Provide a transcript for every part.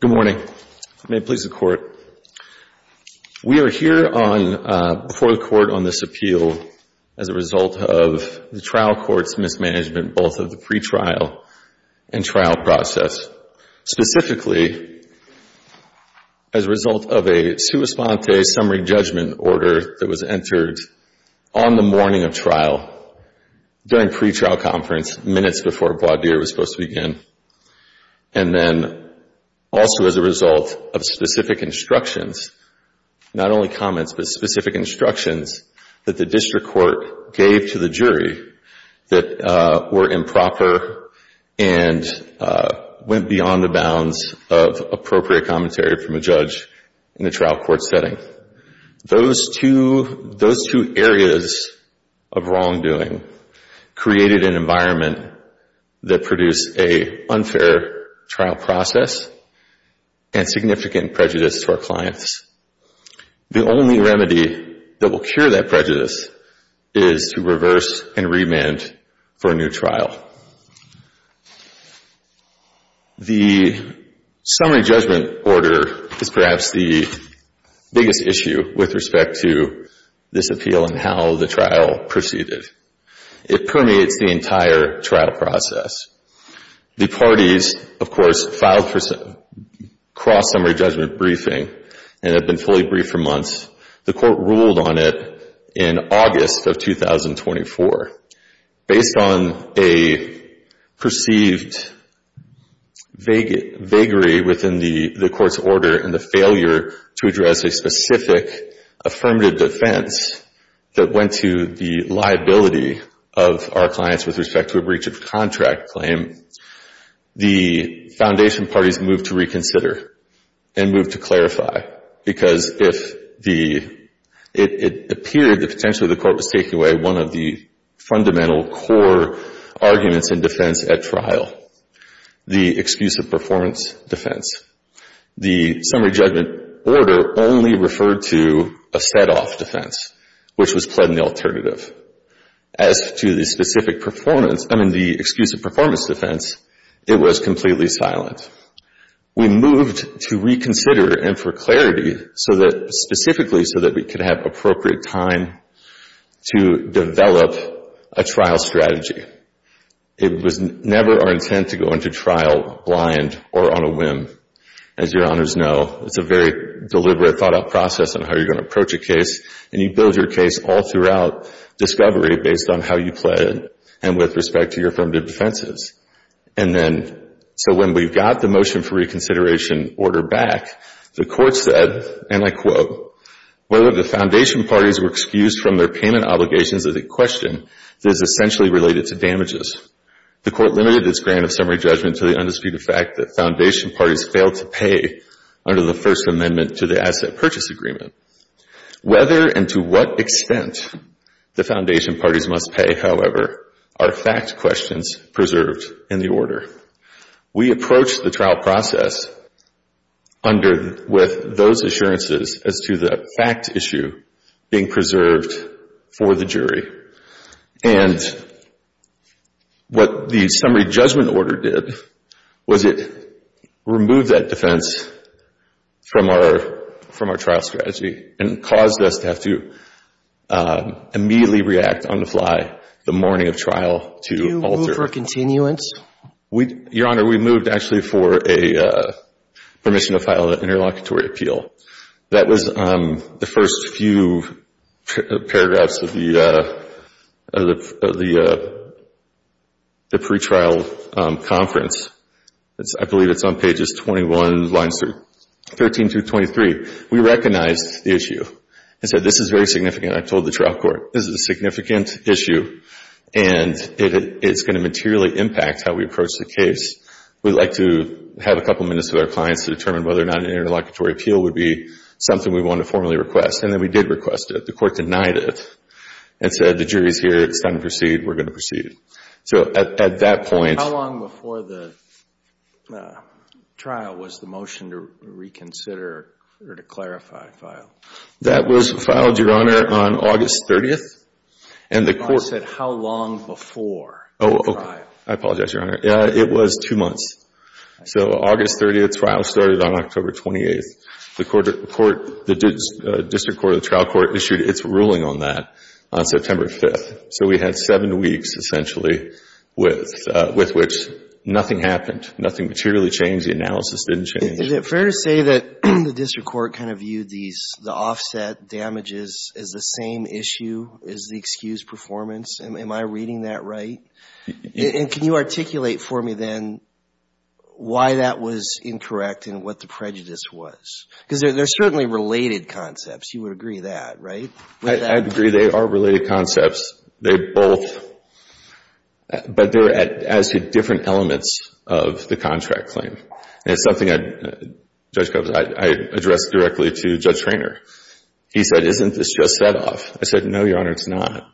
Good morning. May it please the Court. We are here before the Court on this appeal as a result of the trial court's mismanagement, both of the pretrial and trial process. Specifically, as a result of a summa sponte summary judgment order that was entered on the morning of trial during pretrial conference, minutes before Bois d'Ire was supposed to begin. And then also as a result of specific instructions, not only comments, but specific instructions that the district court gave to the jury that were improper and went beyond the bounds of appropriate commentary from a judge in a trial court setting. Those two areas of wrongdoing created an environment that produced an unfair trial process and significant prejudice for clients. The only remedy that will cure that prejudice is to reverse and remand for a new trial. The summary judgment order is perhaps the biggest issue with respect to this appeal and how the trial proceeded. It permeates the entire trial process. The parties, of course, have been fully briefed for months. The Court ruled on it in August of 2024. Based on a perceived vagary within the Court's order and the failure to address a specific affirmative defense that went to the liability of our clients with respect to a breach of contract claim, the foundation parties moved to reconsider and moved to clarify. Because if the, it appeared that potentially the Court was taking away one of the fundamental core arguments in defense at trial, the excuse of performance defense. The summary judgment order only referred to a set-off defense, which was pled in the alternative. As to the specific performance, I mean, the excuse of performance defense, it was completely silent. We moved to reconsider and for clarity specifically so that we could have appropriate time to develop a trial strategy. It was never our intent to go into trial blind or on a whim. As your Honors know, it's a very deliberate thought-out process on how you're going to approach a case and you build your case all throughout discovery based on how you pled and with respect to your affirmative defenses. And then, so when we got the motion for reconsideration order back, the Court said, and I quote, whether the foundation parties were excused from their payment obligations is a question that is essentially related to damages. The Court limited its grant of summary judgment to the undisputed fact that foundation parties failed to pay under the First Amendment to the Asset Purchase Agreement. Whether and to what extent the foundation parties must pay, however, are fact questions preserved in the order. We approached the trial process with those assurances as to the fact issue being preserved for the jury. And what the summary judgment order did was it removed that defense from our trial strategy and caused us to have to immediately react on the fly the morning of trial to alter. Do you move for a continuance? Your Honor, we moved actually for a permission to file an interlocutory appeal. That was the first few paragraphs of the pre-trial appeal. I believe it's on pages 21, lines 13 through 23. We recognized the issue and said, this is very significant. I told the trial court, this is a significant issue and it's going to materially impact how we approach the case. We'd like to have a couple minutes with our clients to determine whether or not an interlocutory appeal would be something we want to formally request. And then we did request it. The Court denied it and said, the jury's here. It's time to proceed. We're going to proceed. How long before the trial was the motion to reconsider or to clarify file? That was filed, Your Honor, on August 30th. I said, how long before the trial? I apologize, Your Honor. It was two months. So August 30th, the trial started on October 28th. The District Court of the Trial Court issued its ruling on that on September 5th. So we had seven weeks, essentially, with which nothing happened. Nothing materially changed. The analysis didn't change. Is it fair to say that the District Court kind of viewed the offset damages as the same issue as the excused performance? Am I reading that right? And can you articulate for me then why that was incorrect and what the prejudice was? Because they're certainly related concepts. You would agree with that, right? I agree. They are related concepts. They both, but they're as a different element of the contract claim. And it's something I addressed directly to Judge Traynor. He said, isn't this just set off? I said, no, Your Honor, it's not.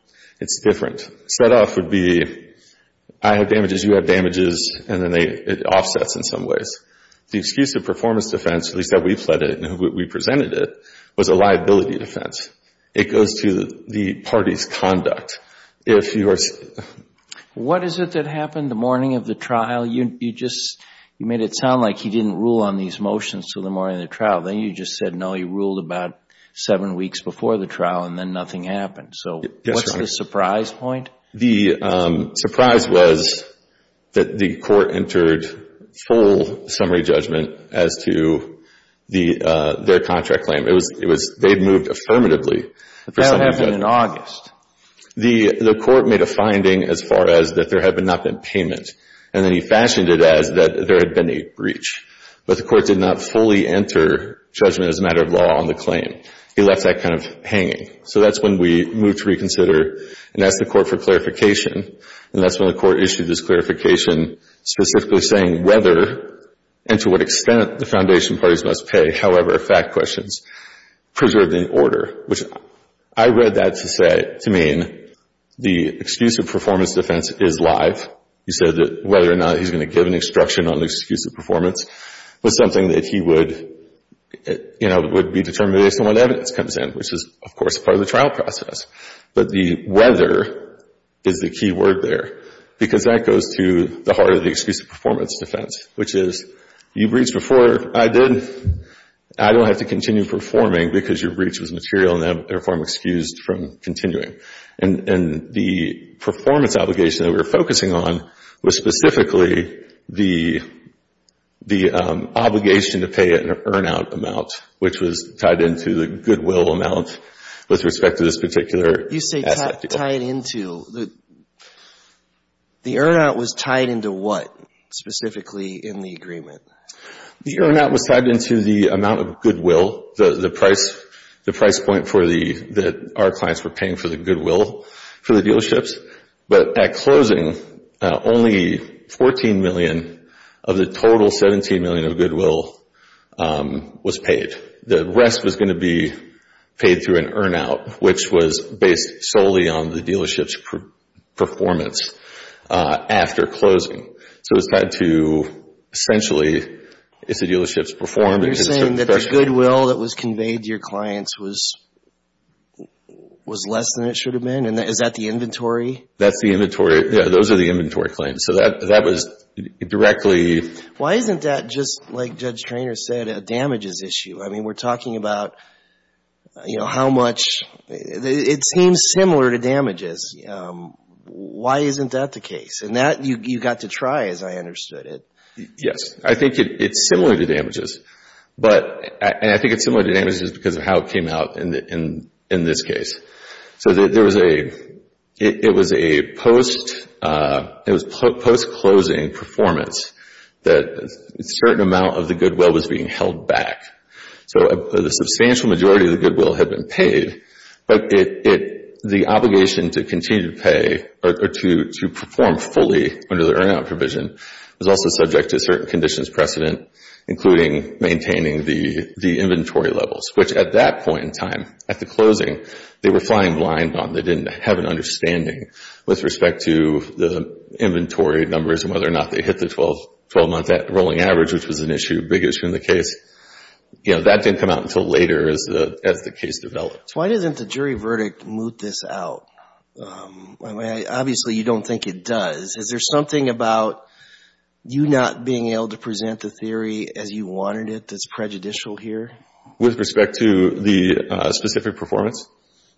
It's different. Set off would be, I have damages, you have damages, and then it offsets in some ways. The excuse of performance defense, at least that we presented it, was a liability defense. It goes to the party's conduct. What is it that happened the morning of the trial? You just made it sound like he didn't rule on these motions until the morning of the trial. Then you just said, no, he ruled about seven weeks before the trial and then nothing happened. So what's the surprise point? The surprise was that the court entered full summary judgment as to their contract claim. They moved affirmatively for summary judgment. That happened in August. The court made a finding as far as that there had not been payment. And then he fashioned it as that there had been a breach. But the court did not fully enter judgment as a matter of law on the claim. He left that kind of hanging. So that's when we moved to reconsider and asked the court for clarification. And that's when the court issued this clarification specifically saying whether and to what extent the foundation parties must pay, however, fact questions, preserved in order. I read that to mean the excuse of performance defense is live. He said that whether or not he's going to give an instruction on the excuse of performance was something that he would be determined based on what evidence comes in, which is, of course, part of the trial process. But the whether is the key word there because that goes to the heart of the excuse of performance defense, which is you breached before I did. I don't have to continue performing because your breach was material and therefore I'm excused from continuing. And the performance obligation that we were focusing on was specifically the obligation to pay an earnout amount, which was tied into the goodwill amount with respect to this particular asset. You say tied into. The earnout was tied into what specifically in the agreement? The earnout was tied into the amount of goodwill, the price point that our clients were paying for the goodwill for the dealerships. But at closing, only $14 million of the total $17 million of goodwill was paid. The rest was going to be paid through an earnout, which was based solely on the dealership's performance after closing. So it's tied to essentially it's the dealership's performance. You're saying that the goodwill that was conveyed to your clients was less than it should have been? Is that the inventory? That's the inventory. Yeah, those are the inventory claims. So that was directly... Why isn't that just, like Judge Treanor said, a damages issue? I mean, we're talking about how much... It seems similar to damages. Why isn't that the case? And that you got to try as I understood it. Yes. I think it's similar to damages. And I think it's similar to damages because of how it came out in this case. So it was a post-closing performance that we were able to see that a certain amount of the goodwill was being held back. So the substantial majority of the goodwill had been paid, but the obligation to continue to pay or to perform fully under the earnout provision was also subject to certain conditions precedent, including maintaining the inventory levels, which at that point in time, at the closing, they were flying blind on. They didn't have an understanding with respect to the inventory numbers and whether or not they hit the 12-month rolling average, which was an issue, a big issue in the case. That didn't come out until later as the case developed. Why doesn't the jury verdict moot this out? I mean, obviously, you don't think it does. Is there something about you not being able to present the theory as you wanted it that's prejudicial here? With respect to the specific performance?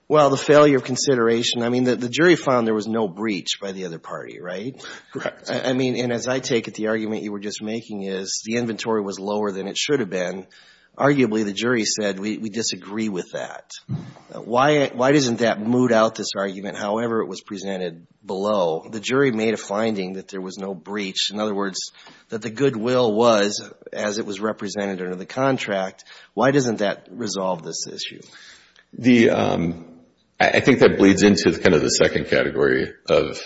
Well, the failure of consideration. I mean, the jury found there was no breach by the other party, right? Correct. I mean, and as I take it, the argument you were just making is the inventory was lower than it should have been. Arguably, the jury said, we disagree with that. Why doesn't that moot out this argument, however it was presented below? The jury made a finding that there was no breach. In other words, that the goodwill was as it was represented under the contract. Why doesn't that resolve this issue? I think that bleeds into kind of the second category of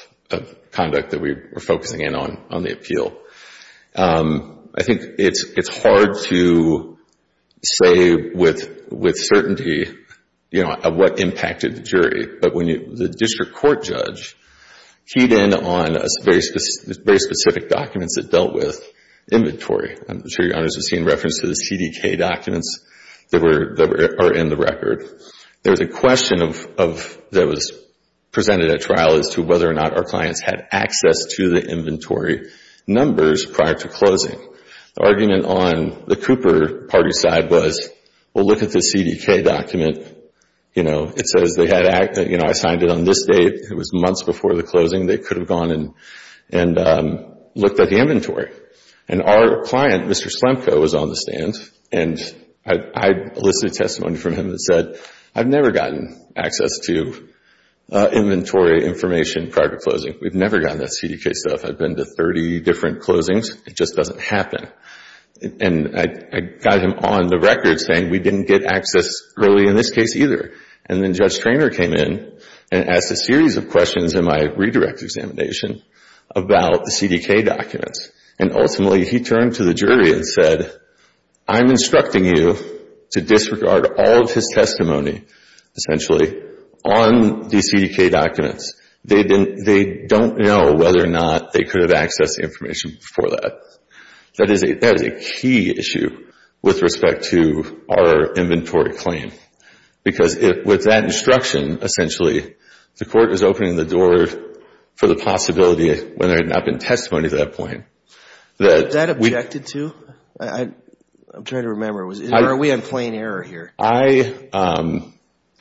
conduct that we were focusing in on, on the appeal. I think it's hard to say with certainty, you know, of what impacted the jury. But when the district court judge keyed in on very specific documents that dealt with inventory, I'm sure your honors have seen references to the CDK documents that are in the record. There's a question that was presented at trial as to whether or not our clients had access to the inventory numbers prior to closing. The argument on the Cooper party side was, well, look at the CDK document. You know, it says they had access. You know, I signed it on this date. It was months before the closing. They could have gone and looked at the inventory. And our client, Mr. Slemko, was on the stand and I elicited testimony from him that said, I've never gotten access to inventory information prior to closing. We've never gotten that CDK stuff. I've been to 30 different closings. It just doesn't happen. And I got him on the record saying we didn't get access early in this case either. And then Judge Treanor came in and asked a series of questions in my redirect examination about the CDK documents. And ultimately, he turned to the jury and said, I'm instructing you to disregard all of his testimony, essentially, on the CDK documents. They don't know whether or not they could have accessed the information before that. That is a key issue with respect to our inventory claim. Because with that instruction, essentially, the court is opening the door for the possibility of whether or not there had been testimony at that point. Was that objected to? I'm trying to remember. Or are we on plain error here? I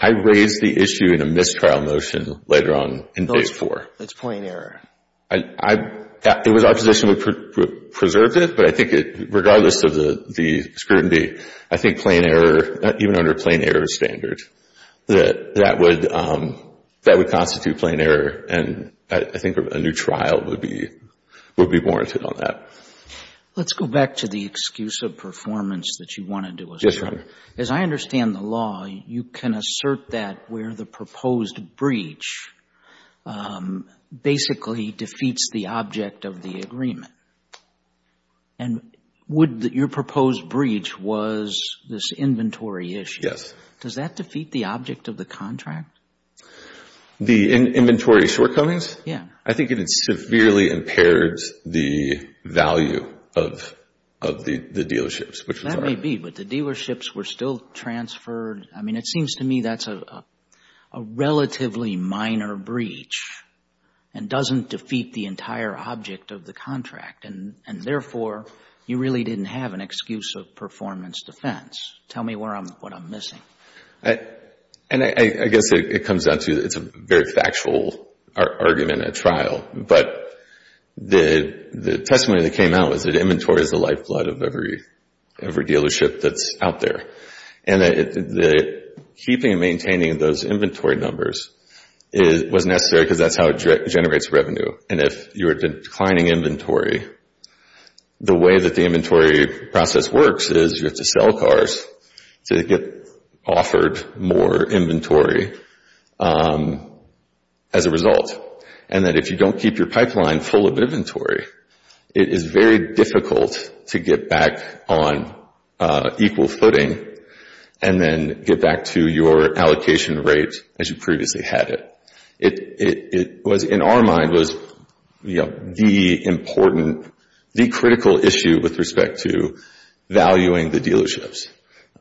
raised the issue in a mistrial motion later on in Phase 4. That's plain error. It was our position we preserved it. But I think, regardless of the scrutiny, I think even under plain error standard, that would constitute plain error. And I think a new trial would be warranted on that. Let's go back to the excuse of performance that you wanted to assert. Yes, Your Honor. As I understand the law, you can assert that where the proposed breach basically defeats the object of the agreement. And your proposed breach was this inventory issue. Does that defeat the object of the contract? The inventory shortcomings? Yes. I think it had severely impaired the value of the dealerships, which was all right. That may be. But the dealerships were still transferred. I mean, it seems to me that's a relatively minor breach and doesn't defeat the entire object of the contract. And therefore, you really didn't have an excuse of performance defense. Tell me what I'm missing. And I guess it comes down to it's a very factual argument at trial. But the testimony that came out was that inventory is the lifeblood of every dealership that's out there. And that keeping and maintaining those inventory numbers was necessary because that's how it generates revenue. And if you're declining inventory, the way that the inventory process works is you have to sell cars to get offered more inventory as a result. And that if you don't keep your pipeline full of inventory, it is very difficult to get back on equal footing and then get back to your allocation rate as you previously had it. It was in our mind was the important, the critical issue with respect to valuing the dealerships.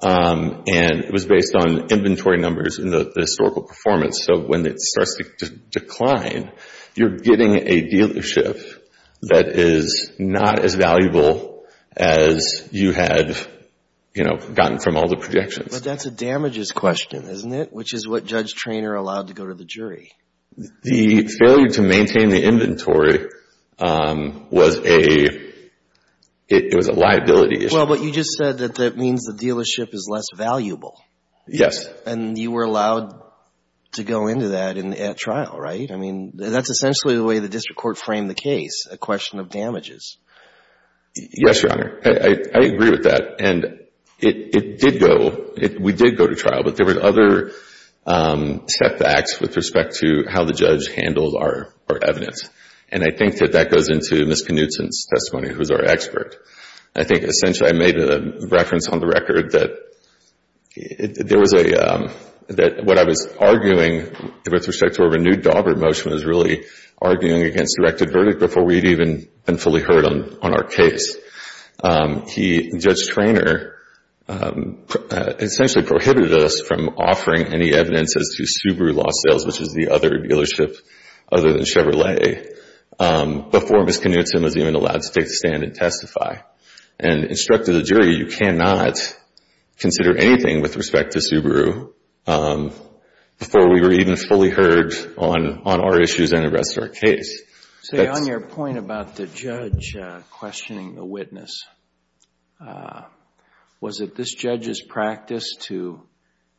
And it was based on inventory numbers and the historical performance. So when it starts to decline, you're getting a dealership that is not as valuable as you had gotten from all the projections. But that's a damages question, isn't it? Which is what Judge Traynor allowed to go to the The failure to maintain the inventory was a liability issue. Well, but you just said that that means the dealership is less valuable. Yes. And you were allowed to go into that at trial, right? I mean, that's essentially the way the district court framed the case, a question of damages. Yes, Your Honor. I agree with that. And it did go, we did go to trial. But there were other setbacks with respect to how the judge handled our evidence. And I think that that goes into Ms. Knutson's testimony, who is our expert. I think essentially I made a reference on the record that there was a, that what I was arguing with respect to our renewed Aubert motion was really arguing against directed verdict before we'd even been fully heard on our case. He, Judge Traynor, essentially prohibited us from offering any evidence as to Subaru lost sales, which is the other dealership other than Chevrolet, before Ms. Knutson was even allowed to take the stand and testify. And instructed the jury, you cannot consider anything with respect to Subaru before we were even fully heard on our issues and the rest of our case. So on your point about the judge questioning the witness, was it this judge's practice to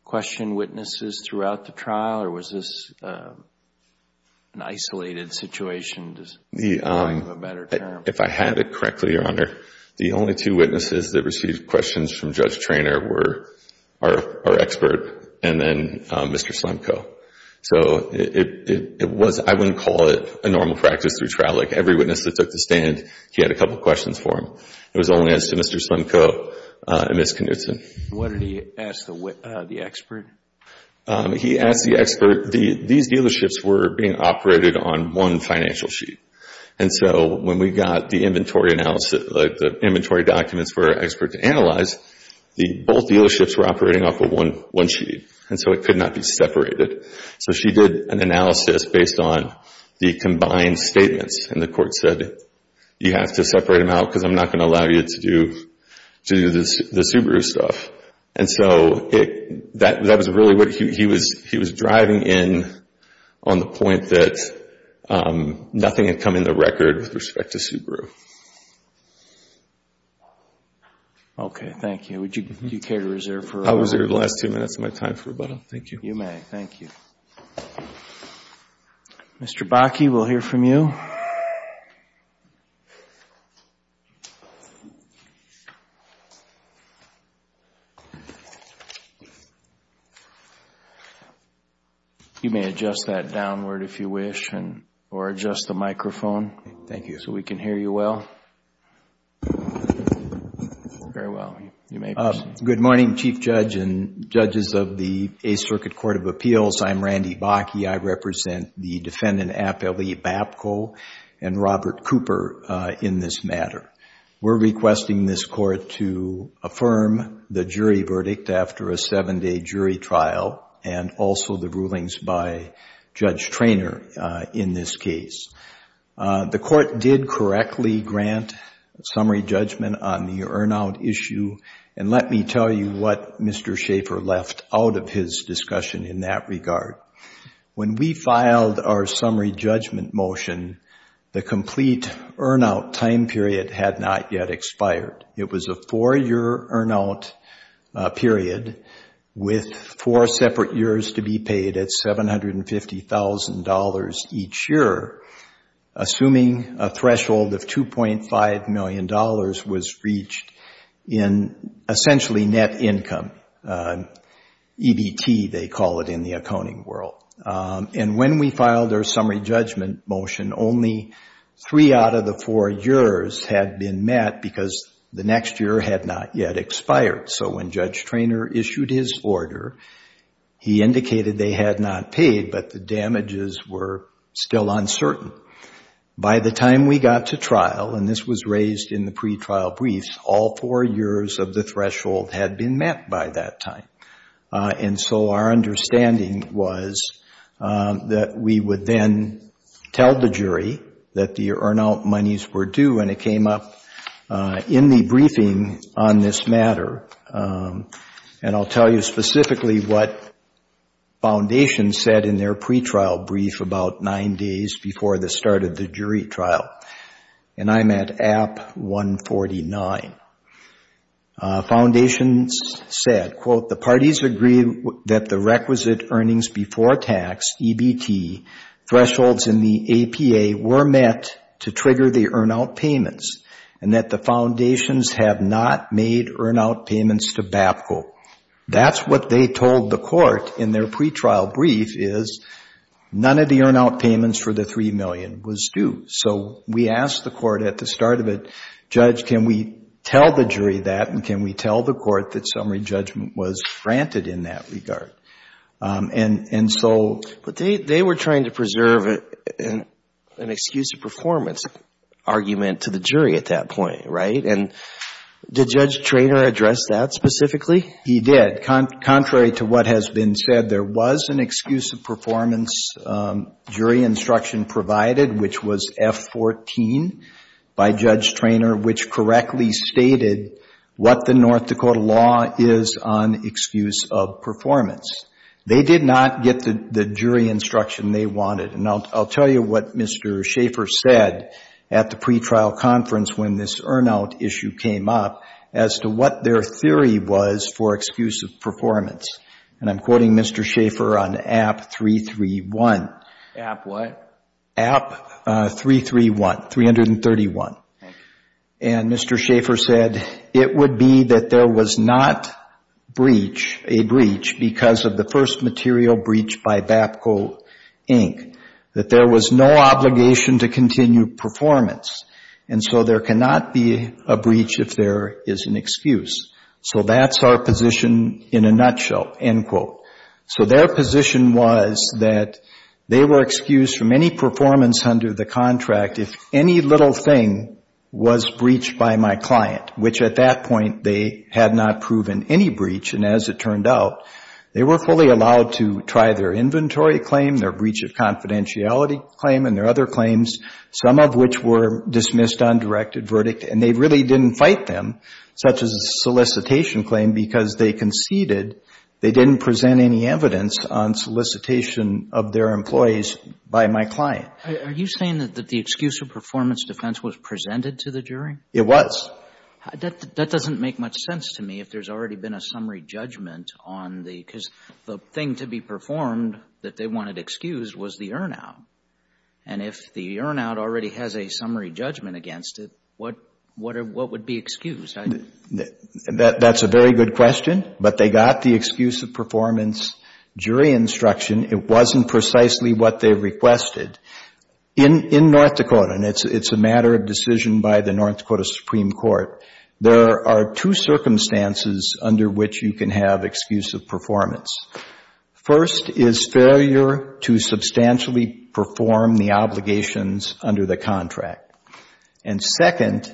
question witnesses throughout the trial or was this an isolated situation? If I have it correctly, Your Honor, the only two witnesses that received questions from Judge Traynor were our expert and then Mr. Slemko. So it was, I wouldn't call it a normal practice through trial. Like every witness that took the stand, he had a couple of questions for him. It was only as to Mr. Slemko and Ms. Knutson. What did he ask the expert? He asked the expert, these dealerships were being operated on one financial sheet. And when we got the inventory analysis, the inventory documents for our expert to analyze, both dealerships were operating off of one sheet. And so it could not be separated. So she did an analysis based on the combined statements and the court said, you have to separate them out because I'm not going to allow you to do the Subaru stuff. And so that was really what he was driving in on the point that nothing had come in the Subaru. Okay. Thank you. Would you care to reserve for a moment? I'll reserve the last two minutes of my time for rebuttal. Thank you. You may. Thank you. Mr. Bakke, we'll hear from you. You may adjust that downward if you wish or adjust the microphone. Thank you. So we can hear you well. Very well. You may proceed. Good morning, Chief Judge and judges of the Eighth Circuit Court of Appeals. I'm Randy Bakke. I represent the Defendant Appellee Babko and Robert Cooper in this matter. We're requesting this court to affirm the jury verdict after a seven-day jury trial and also the court did correctly grant summary judgment on the earn-out issue. And let me tell you what Mr. Schaffer left out of his discussion in that regard. When we filed our summary judgment motion, the complete earn-out time period had not yet expired. It was a four-year earn-out period with four separate years to be paid at $750,000 each year, assuming a threshold of $2.5 million was reached in essentially net income, EBT they call it in the accounting world. And when we filed our summary judgment motion, only three out of the four years had been met because the next year had not yet expired. So when Judge Traynor issued his order, he indicated they had not paid, but the damages were still uncertain. By the time we got to trial, and this was raised in the pretrial briefs, all four years of the threshold had been met by that time. And so our understanding was that we would then tell the jury that the earn-out monies were due and it came up in the briefing on this matter. And I'll tell you specifically what foundations said in their pretrial brief about nine days before the start of the jury trial. And I'm at App 149. Foundations said, quote, the parties agreed that the requisite earnings before tax, EBT, thresholds in the APA were met to trigger the earn-out payments and that the foundations have not made earn-out payments to BAPCO. That's what they told the court in their pretrial brief is none of the earn-out payments for the $3 million was due. So we asked the court at the start of it, Judge, can we tell the jury that and can we tell the court that summary judgment was granted in that regard? And so they were trying to preserve an excuse of performance argument to the jury at that point, right? And did Judge Traynor address that specifically? He did. Contrary to what has been said, there was an excuse of performance jury instruction provided, which was F14 by Judge Traynor, which correctly stated what the North Dakota law is on excuse of performance. They did not get the jury instruction they wanted. And I'll tell you what Mr. Schaefer said at the pretrial conference when this earn-out issue came up as to what their theory was for excuse of performance. And I'm quoting Mr. Schaefer on App 331. App what? That there was not a breach because of the first material breach by BAPCO Inc. That there was no obligation to continue performance. And so there cannot be a breach if there is an excuse. So that's our position in a nutshell, end quote. So their position was that they were excused from any performance under the contract if any little thing was breached by my client, which at that point they had not proven any breach. And as it turned out, they were fully allowed to try their inventory claim, their breach of confidentiality claim and their other claims, some of which were dismissed on directed verdict. And they really didn't fight them, such as a solicitation claim, because they conceded they didn't present any evidence on solicitation of their employees by my client. Are you saying that the excuse of performance defense was presented to the jury? It was. That doesn't make much sense to me if there's already been a summary judgment on the, because the thing to be performed that they wanted excused was the earn-out. And if the earn-out already has a summary judgment against it, what would be excused? That's a very good question. But they got the excuse of performance jury instruction. It wasn't precisely what they requested. In North Dakota, and it's a matter of decision by the North Dakota Supreme Court, there are two circumstances under which you can have excuse of performance. First is failure to substantially perform the obligations under the contract. And second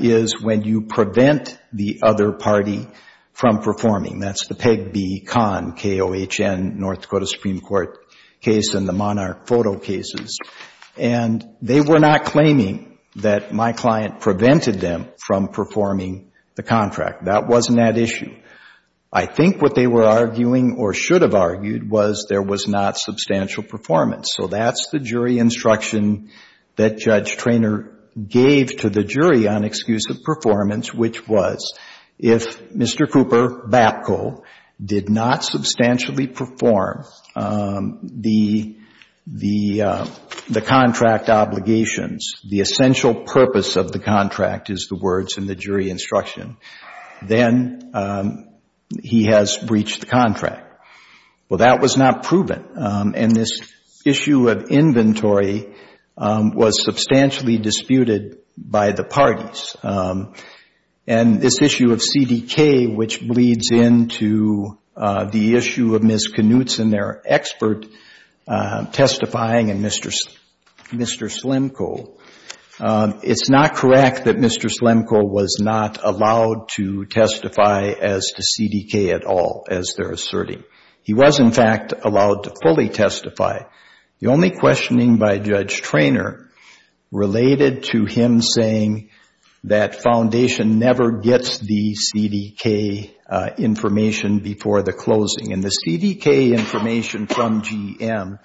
is when you prevent the other party from performing. That's the PEGB CON, K-O-H-N, North Dakota Supreme Court case and the Monarch photo cases. And they were not claiming that my client prevented them from performing the contract. That wasn't that issue. I think what they were arguing or should have argued was there was not substantial performance. So that's the jury instruction that Judge Traynor gave to the jury on excuse of performance, which was if Mr. Cooper, BAPCO, did not substantially perform the contract obligations, the essential purpose of the contract is the words in the jury instruction, then he has breached the contract. Well, that was not proven. And this issue of inventory was substantially disputed by the parties. And this issue of CDK, which bleeds into the issue of Mr. Slemko, it's not correct that Mr. Slemko was not allowed to testify as to CDK at all, as they're asserting. He was, in fact, allowed to fully testify. The only questioning by Judge Traynor related to him saying that Foundation never gets the CDK information before the closing. And the CDK information from GM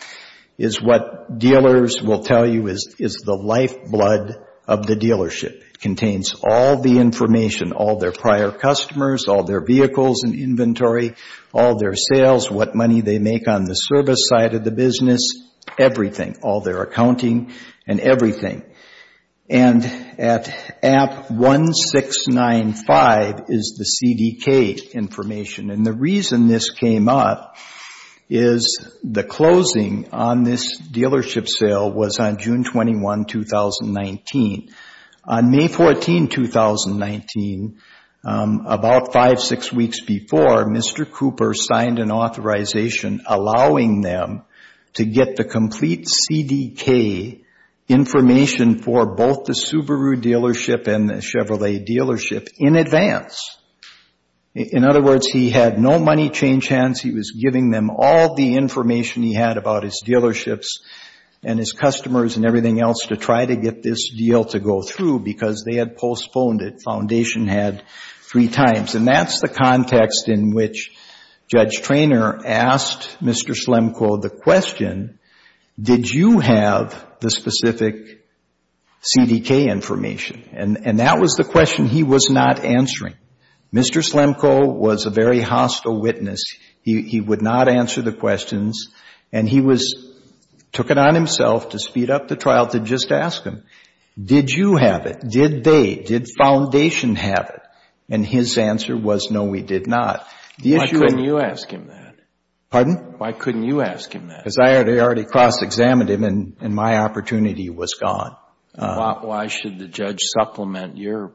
is what dealers will tell you is the lifeblood of the dealership. It contains all the information, all their prior customers, all their vehicles and inventory, all their sales, what money they make on the service side of the business, everything, all their accounting and everything. And at 1695 is the CDK information. And the reason this came up is the closing on this dealership sale was on June 21, 2019. On May 14, 2019, about five, six weeks before, Mr. Cooper signed an authorization allowing them to get the complete CDK information for both the Subaru dealership and the Chevrolet dealership in advance. In other words, he had no money change hands. He was giving them all the information he had about his dealerships and his customers and everything else to try to get this deal to go through because they had postponed it. Foundation had three times. And that's the context in which Judge Traynor asked Mr. Slemko the question, did you have the specific CDK information? And that was the question he was not answering. Mr. Slemko was a very hostile witness. He would not answer the questions and he took it on himself to speed up the trial to just ask him, did you have it? Did they? Did Foundation have it? And his answer was, no, we did not. Why couldn't you ask him that? Pardon? Why couldn't you ask him that? Because I had already cross-examined him and my opportunity was gone. Why should the judge supplement your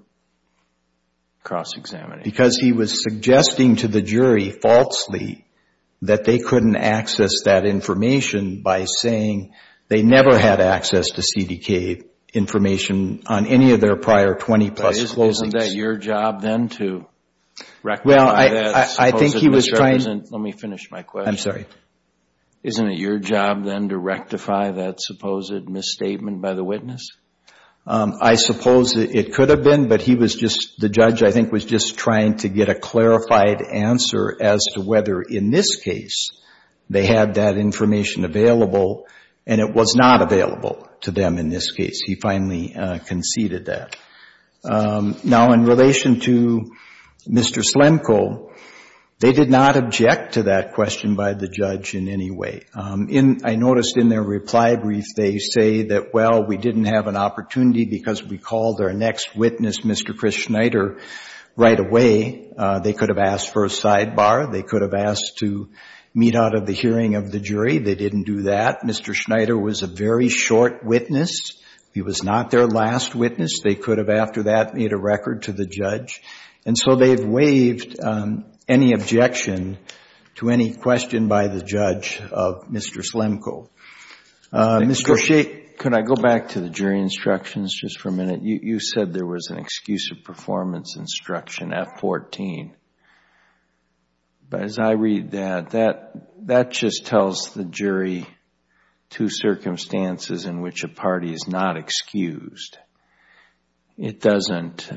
cross-examination? Because he was suggesting to the jury falsely that they couldn't access that information by saying they never had access to CDK information on any of their prior 20-plus closings. Isn't that your job then to recognize that as opposed to misrepresent? Let me finish my question. Isn't it your job then to rectify that supposed misstatement by the witness? I suppose it could have been, but he was just, the judge I think was just trying to get a clarified answer as to whether in this case they had that information available and it was not available to them in this case. He finally conceded that. Now, in relation to Mr. Slemko, they did not object to that question by the judge in any way. I noticed in their reply brief they say that, well, we didn't have an opportunity because we called our next witness, Mr. Chris Schneider, right away. They could have asked for a sidebar. They could have asked to meet out of the hearing of the jury. They didn't do that. Mr. Schneider was a very short witness. He was not their last witness. They could have after that made a record to the judge. And so they've waived any objection to any question by the judge of Mr. Slemko. Mr. Shea, could I go back to the jury instructions just for a minute? You said there was an excuse of performance instruction, F14, but as I read that, that just tells the jury two circumstances in which a party is not excused. It doesn't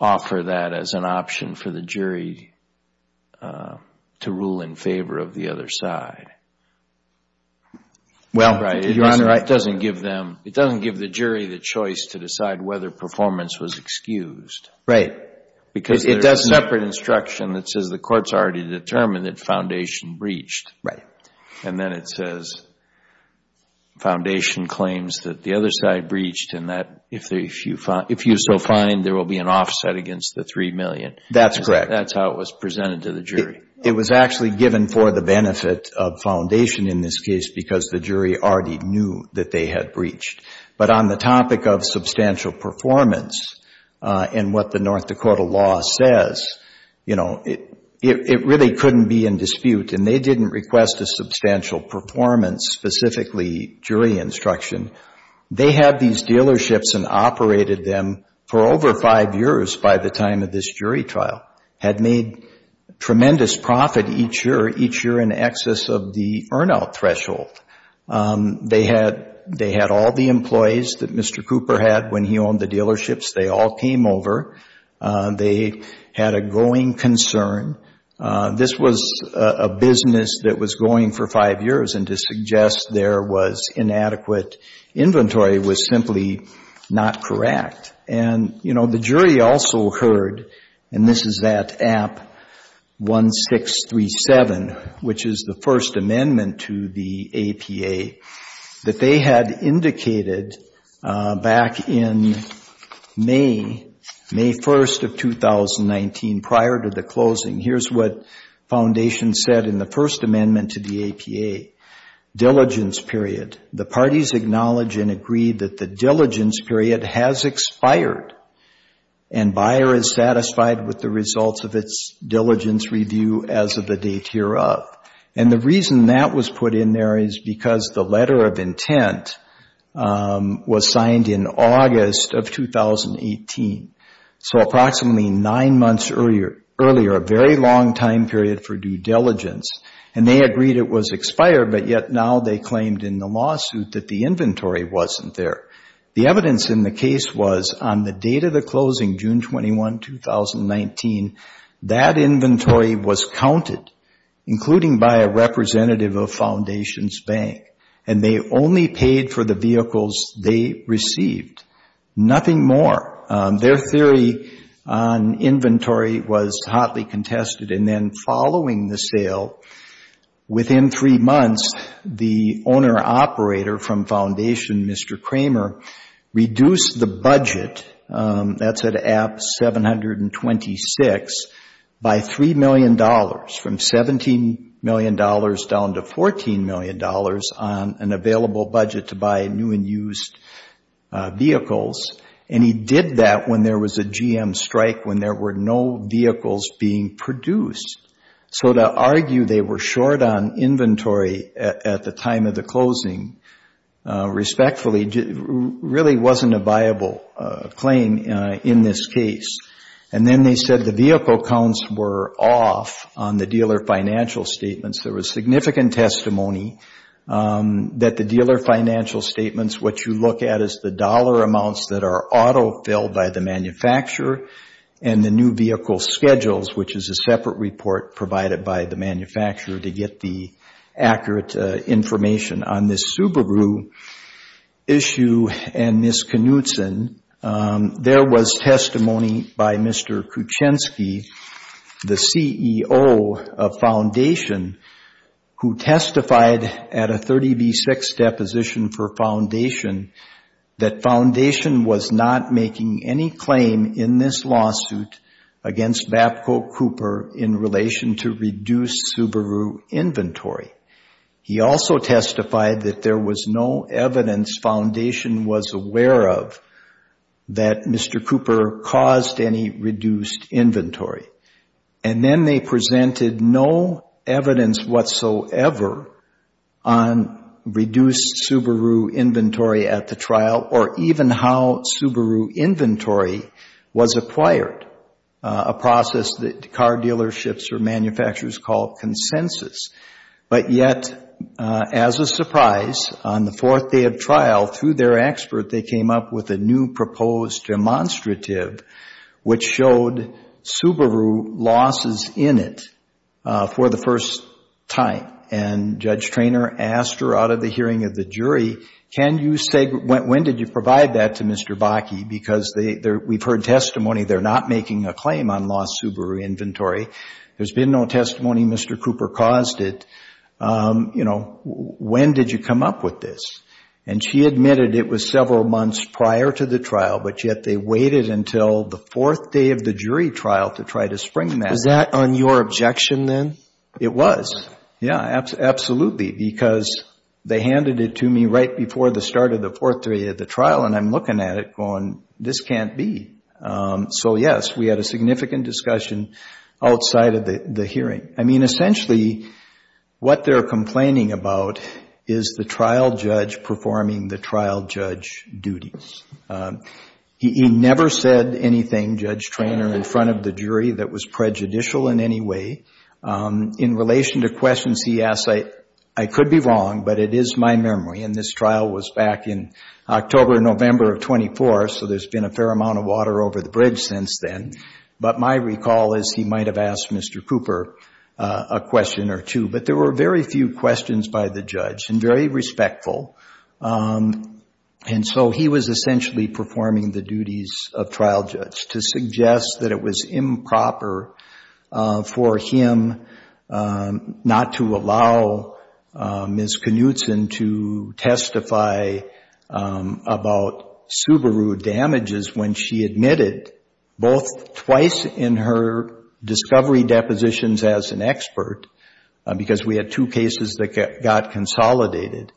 offer that as an option for the jury to rule in favor of the other side. Well, Your Honor, I... It doesn't give them, it doesn't give the jury the choice to decide whether performance was excused. Right. Because there is a separate instruction that says the court has already determined that the foundation breached. And then it says foundation claims that the other side breached and that if you so find, there will be an offset against the $3 million. That's correct. That's how it was presented to the jury. It was actually given for the benefit of foundation in this case because the jury already knew that they had breached. But on the topic of substantial performance and what the North Dakota law says, you know, it really couldn't be in dispute and they didn't request a substantial performance specifically jury instruction. They had these dealerships and operated them for over five years by the time of this jury trial. Had made tremendous profit each year, each year in excess of the earn out threshold. They had all the employees that Mr. Cooper had when he owned the dealerships. They all came over. They had a growing concern. This was a business that was going for five years and to suggest there was inadequate inventory was simply not correct. And you know, the jury also heard, and this is that app 1637, which is the first amendment to the APA that they had indicated back in May, May 1st of 2019 prior to the closing. Here's what foundation said in the first amendment to the APA. Diligence period. The parties acknowledge and agree that the diligence period has expired and buyer is satisfied with the results of its diligence review as of the date hereof. And the reason that was put in there is because the letter of intent was signed in August of 2018. So approximately nine months earlier, a very long time period for due diligence. And they agreed it was expired, but yet now they claimed in the lawsuit that the inventory wasn't there. The evidence in the case was on the date of the closing, June 21, 2019, that inventory was counted, including by a representative of foundation's bank. And they only paid for the vehicles they received. Nothing more. Their theory on inventory was hotly contested. And then following the sale, within three months, the owner-operator from foundation, Mr. Kramer, reduced the budget, that's at App 726, by $3 million, from $17 million down to $14 million on an available budget to buy new and used vehicles. And he did that when there was a GM strike, when there were no vehicles being produced. So to argue they were short on inventory at the time of the closing, respectfully, really wasn't a viable claim in this case. And then they said the vehicle counts were off on the dealer financial statements. There was significant testimony that the dealer financial statements, what you look at is the dollar amounts that are auto-filled by the manufacturer and the new vehicle schedules, which is a separate report provided by the manufacturer to get the accurate information on this Subaru issue and this Knudsen. There was testimony by Mr. Kuchenski, the CEO of foundation, who testified at a 30B6 deposition for foundation, that foundation was not making any claim in this lawsuit against Babco Cooper in relation to reduced Subaru inventory. He also testified that there was no evidence foundation was aware of that Mr. Cooper caused any reduced inventory. And then they presented no evidence whatsoever on reduced Subaru inventory at the trial or even how Subaru inventory was acquired, a process that car dealerships or manufacturers call consensus. But yet, as a surprise, on the fourth day of trial, through their expert, they came up with a new proposed demonstrative, which showed Subaru losses in it for the first time. And Judge Traynor asked her out of the hearing of the jury, can you say, when did you provide that to Mr. Bakke? Because we've heard testimony they're not making a claim on lost Subaru inventory. There's been no testimony Mr. Cooper caused it. You know, when did you come up with this? And she admitted it was several months prior to the trial, but yet they waited until the fourth day of the jury trial to try to spring that. Is that on your objection then? It was. Yeah, absolutely, because they handed it to me right before the start of the fourth day of the trial and I'm looking at it going, this can't be. So yes, we had a significant discussion outside of the hearing. I mean, essentially, what they're complaining about is the trial judge performing the trial judge duties. He never said anything, Judge Traynor, in front of the jury that was prejudicial in any way. In relation to questions he asked, I could be wrong, but it is my memory, and this trial was back in October, November of 24, so there's been a fair amount of water over the bridge since then. But my recall is he might have asked Mr. Cooper a question or two, but there were very few questions by the judge and very respectful. And so he was essentially performing the duties of trial judge to suggest that it was improper for him not to allow Ms. Knutson to testify about Subaru damages when she admitted, both twice in her discovery depositions as an expert, because we had two cases that got consolidated,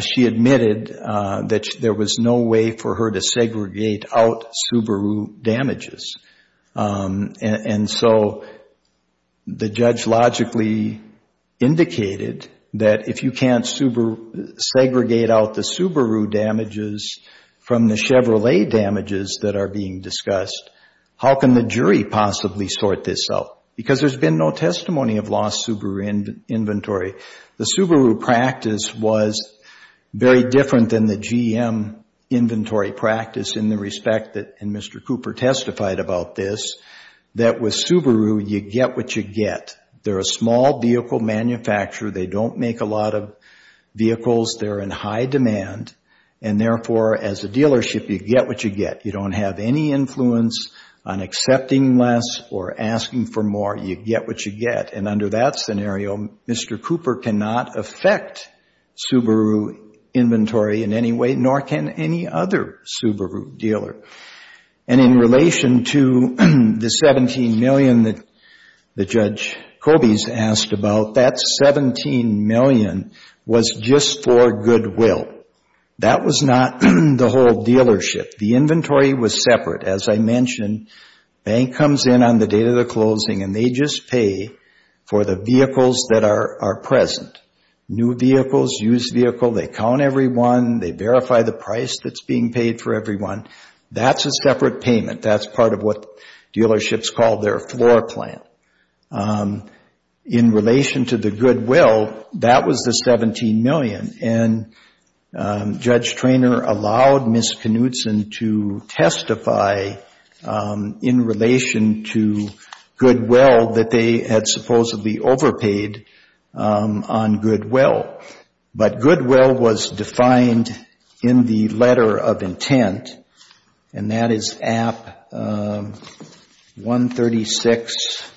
she admitted that there was no way for her to segregate out Subaru damages. And so the judge logically indicated that if you can't segregate out the Subaru damages from the Chevrolet damages that are being discussed, how can the jury possibly sort this out? Because there's been no testimony of lost Subaru inventory. The Subaru practice was very different than the GM inventory practice in the respect that Mr. Cooper testified about this, that with Subaru, you get what you get. They're a small vehicle manufacturer. They don't make a lot of vehicles. They're in high demand, and therefore, as a dealership, you get what you get. You don't have any influence on accepting less or asking for more. You get what you get. And under that scenario, Mr. Cooper cannot affect Subaru inventory in any way, nor can any other Subaru dealer. And in relation to the $17 million that Judge Kobes asked about, that $17 million was just for goodwill. That was not the whole dealership. The inventory was separate. As I mentioned, bank comes in on the day of the closing, and they just pay for the vehicles that are present, new vehicles, used vehicle. They count everyone. They verify the price that's being paid for everyone. That's a separate payment. That's part of what dealerships call their floor plan. In relation to the goodwill, that was the $17 million. And Judge Treanor allowed Ms. Knutson to testify in relation to goodwill that they had supposedly overpaid on goodwill. But goodwill was defined in the letter of intent. And that is app 136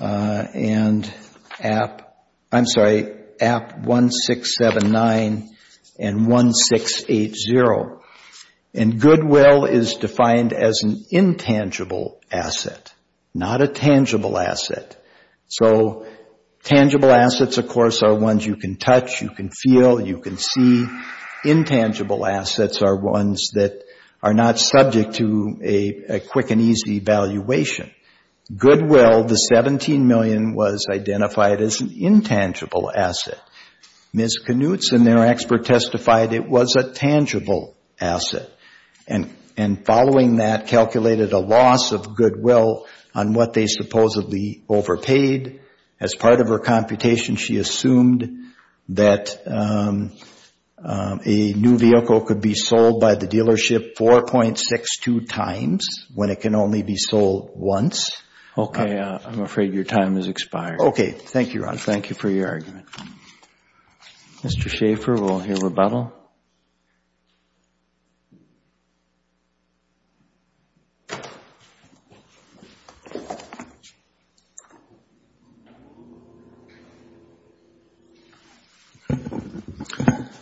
and app, I'm sorry, app 1679 and 1680. And goodwill is defined as an intangible asset, not a tangible asset. So tangible assets, of course, are ones you can touch, you can feel, you can see. Intangible assets are ones that are not subject to a quick and easy valuation. Goodwill, the $17 million, was identified as an intangible asset. Ms. Knutson, their expert, testified it was a tangible asset. And following that, calculated a loss of goodwill on what they supposedly overpaid. As part of her computation, she assumed that a new vehicle could be sold by the dealership 4.62 times when it can only be sold once. I'm afraid your time has expired. Okay. Thank you, Your Honor. Thank you for your argument. Mr. Schaffer, we'll hear rebuttal.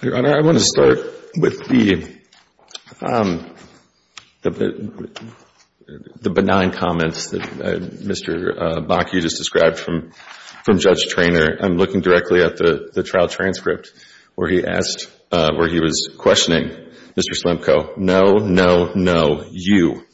Your Honor, I want to start with the benign comments that Mr. Bakke just described from Judge Traynor. I'm looking directly at the trial transcript where he asked, where he was questioning Mr. Slemko. No, no, no. You.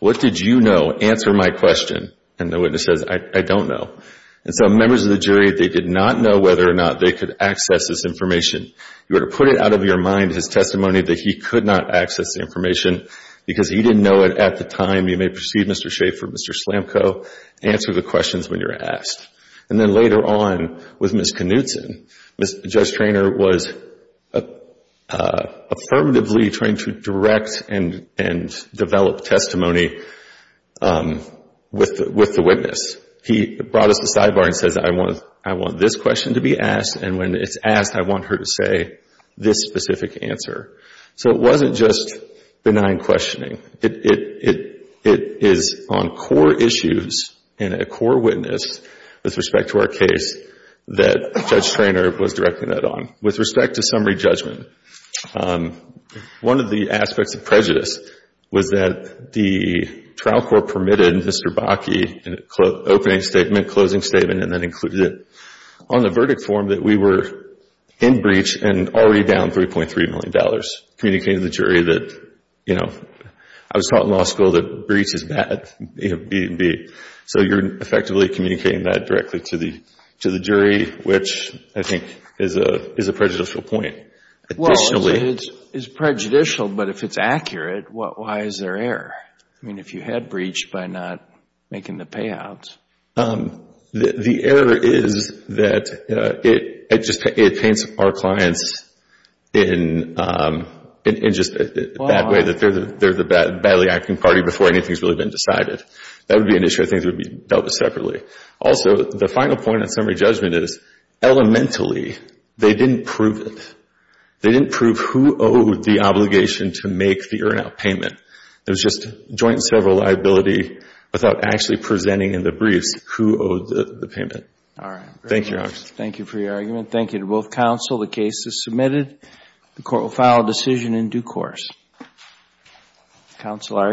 What did you know? Answer my question. And the witness says, I don't know. And so members of the jury, they did not know whether or not they could access this information. You ought to put it out of your mind, his testimony, that he could not access the information because he didn't know it at the time. You may perceive, Mr. Schaffer, Mr. Slemko, answer the questions when you're asked. And then later on, with Ms. Knutson, Judge Traynor was affirmatively trying to direct and develop testimony with the witness. He brought us the sidebar and says, I want this question to be asked, and when it's asked, I want her to say this specific answer. So it wasn't just benign questioning. It is on core issues and a core witness with respect to our case that Judge Traynor was directing that on. With respect to summary judgment, one of the aspects of prejudice was that the trial court permitted Mr. Bakke, opening statement, closing statement, and then included it on the verdict form that we were in breach and already down $3.3 million, communicating to the jury that, you know, I was taught in law school that breach is bad. So you're effectively communicating that directly to the jury, which I think is a prejudicial point. Well, it's prejudicial, but if it's accurate, why is there error? I mean, if you had breached by not making the payouts. The error is that it paints our clients in just a bad way, that they're the badly acting party before anything has really been decided. That would be an issue that things would be dealt with separately. Also, the final point on summary judgment is, elementally, they didn't prove it. They didn't prove who owed the obligation to make the earn-out payment. It was just joint and several liability without actually presenting in the briefs who owed the payment. All right. Thank you, Your Honor. Thank you for your argument. Thank you to both counsel. The case is submitted. The court will file a decision in due course. Counsel are excused.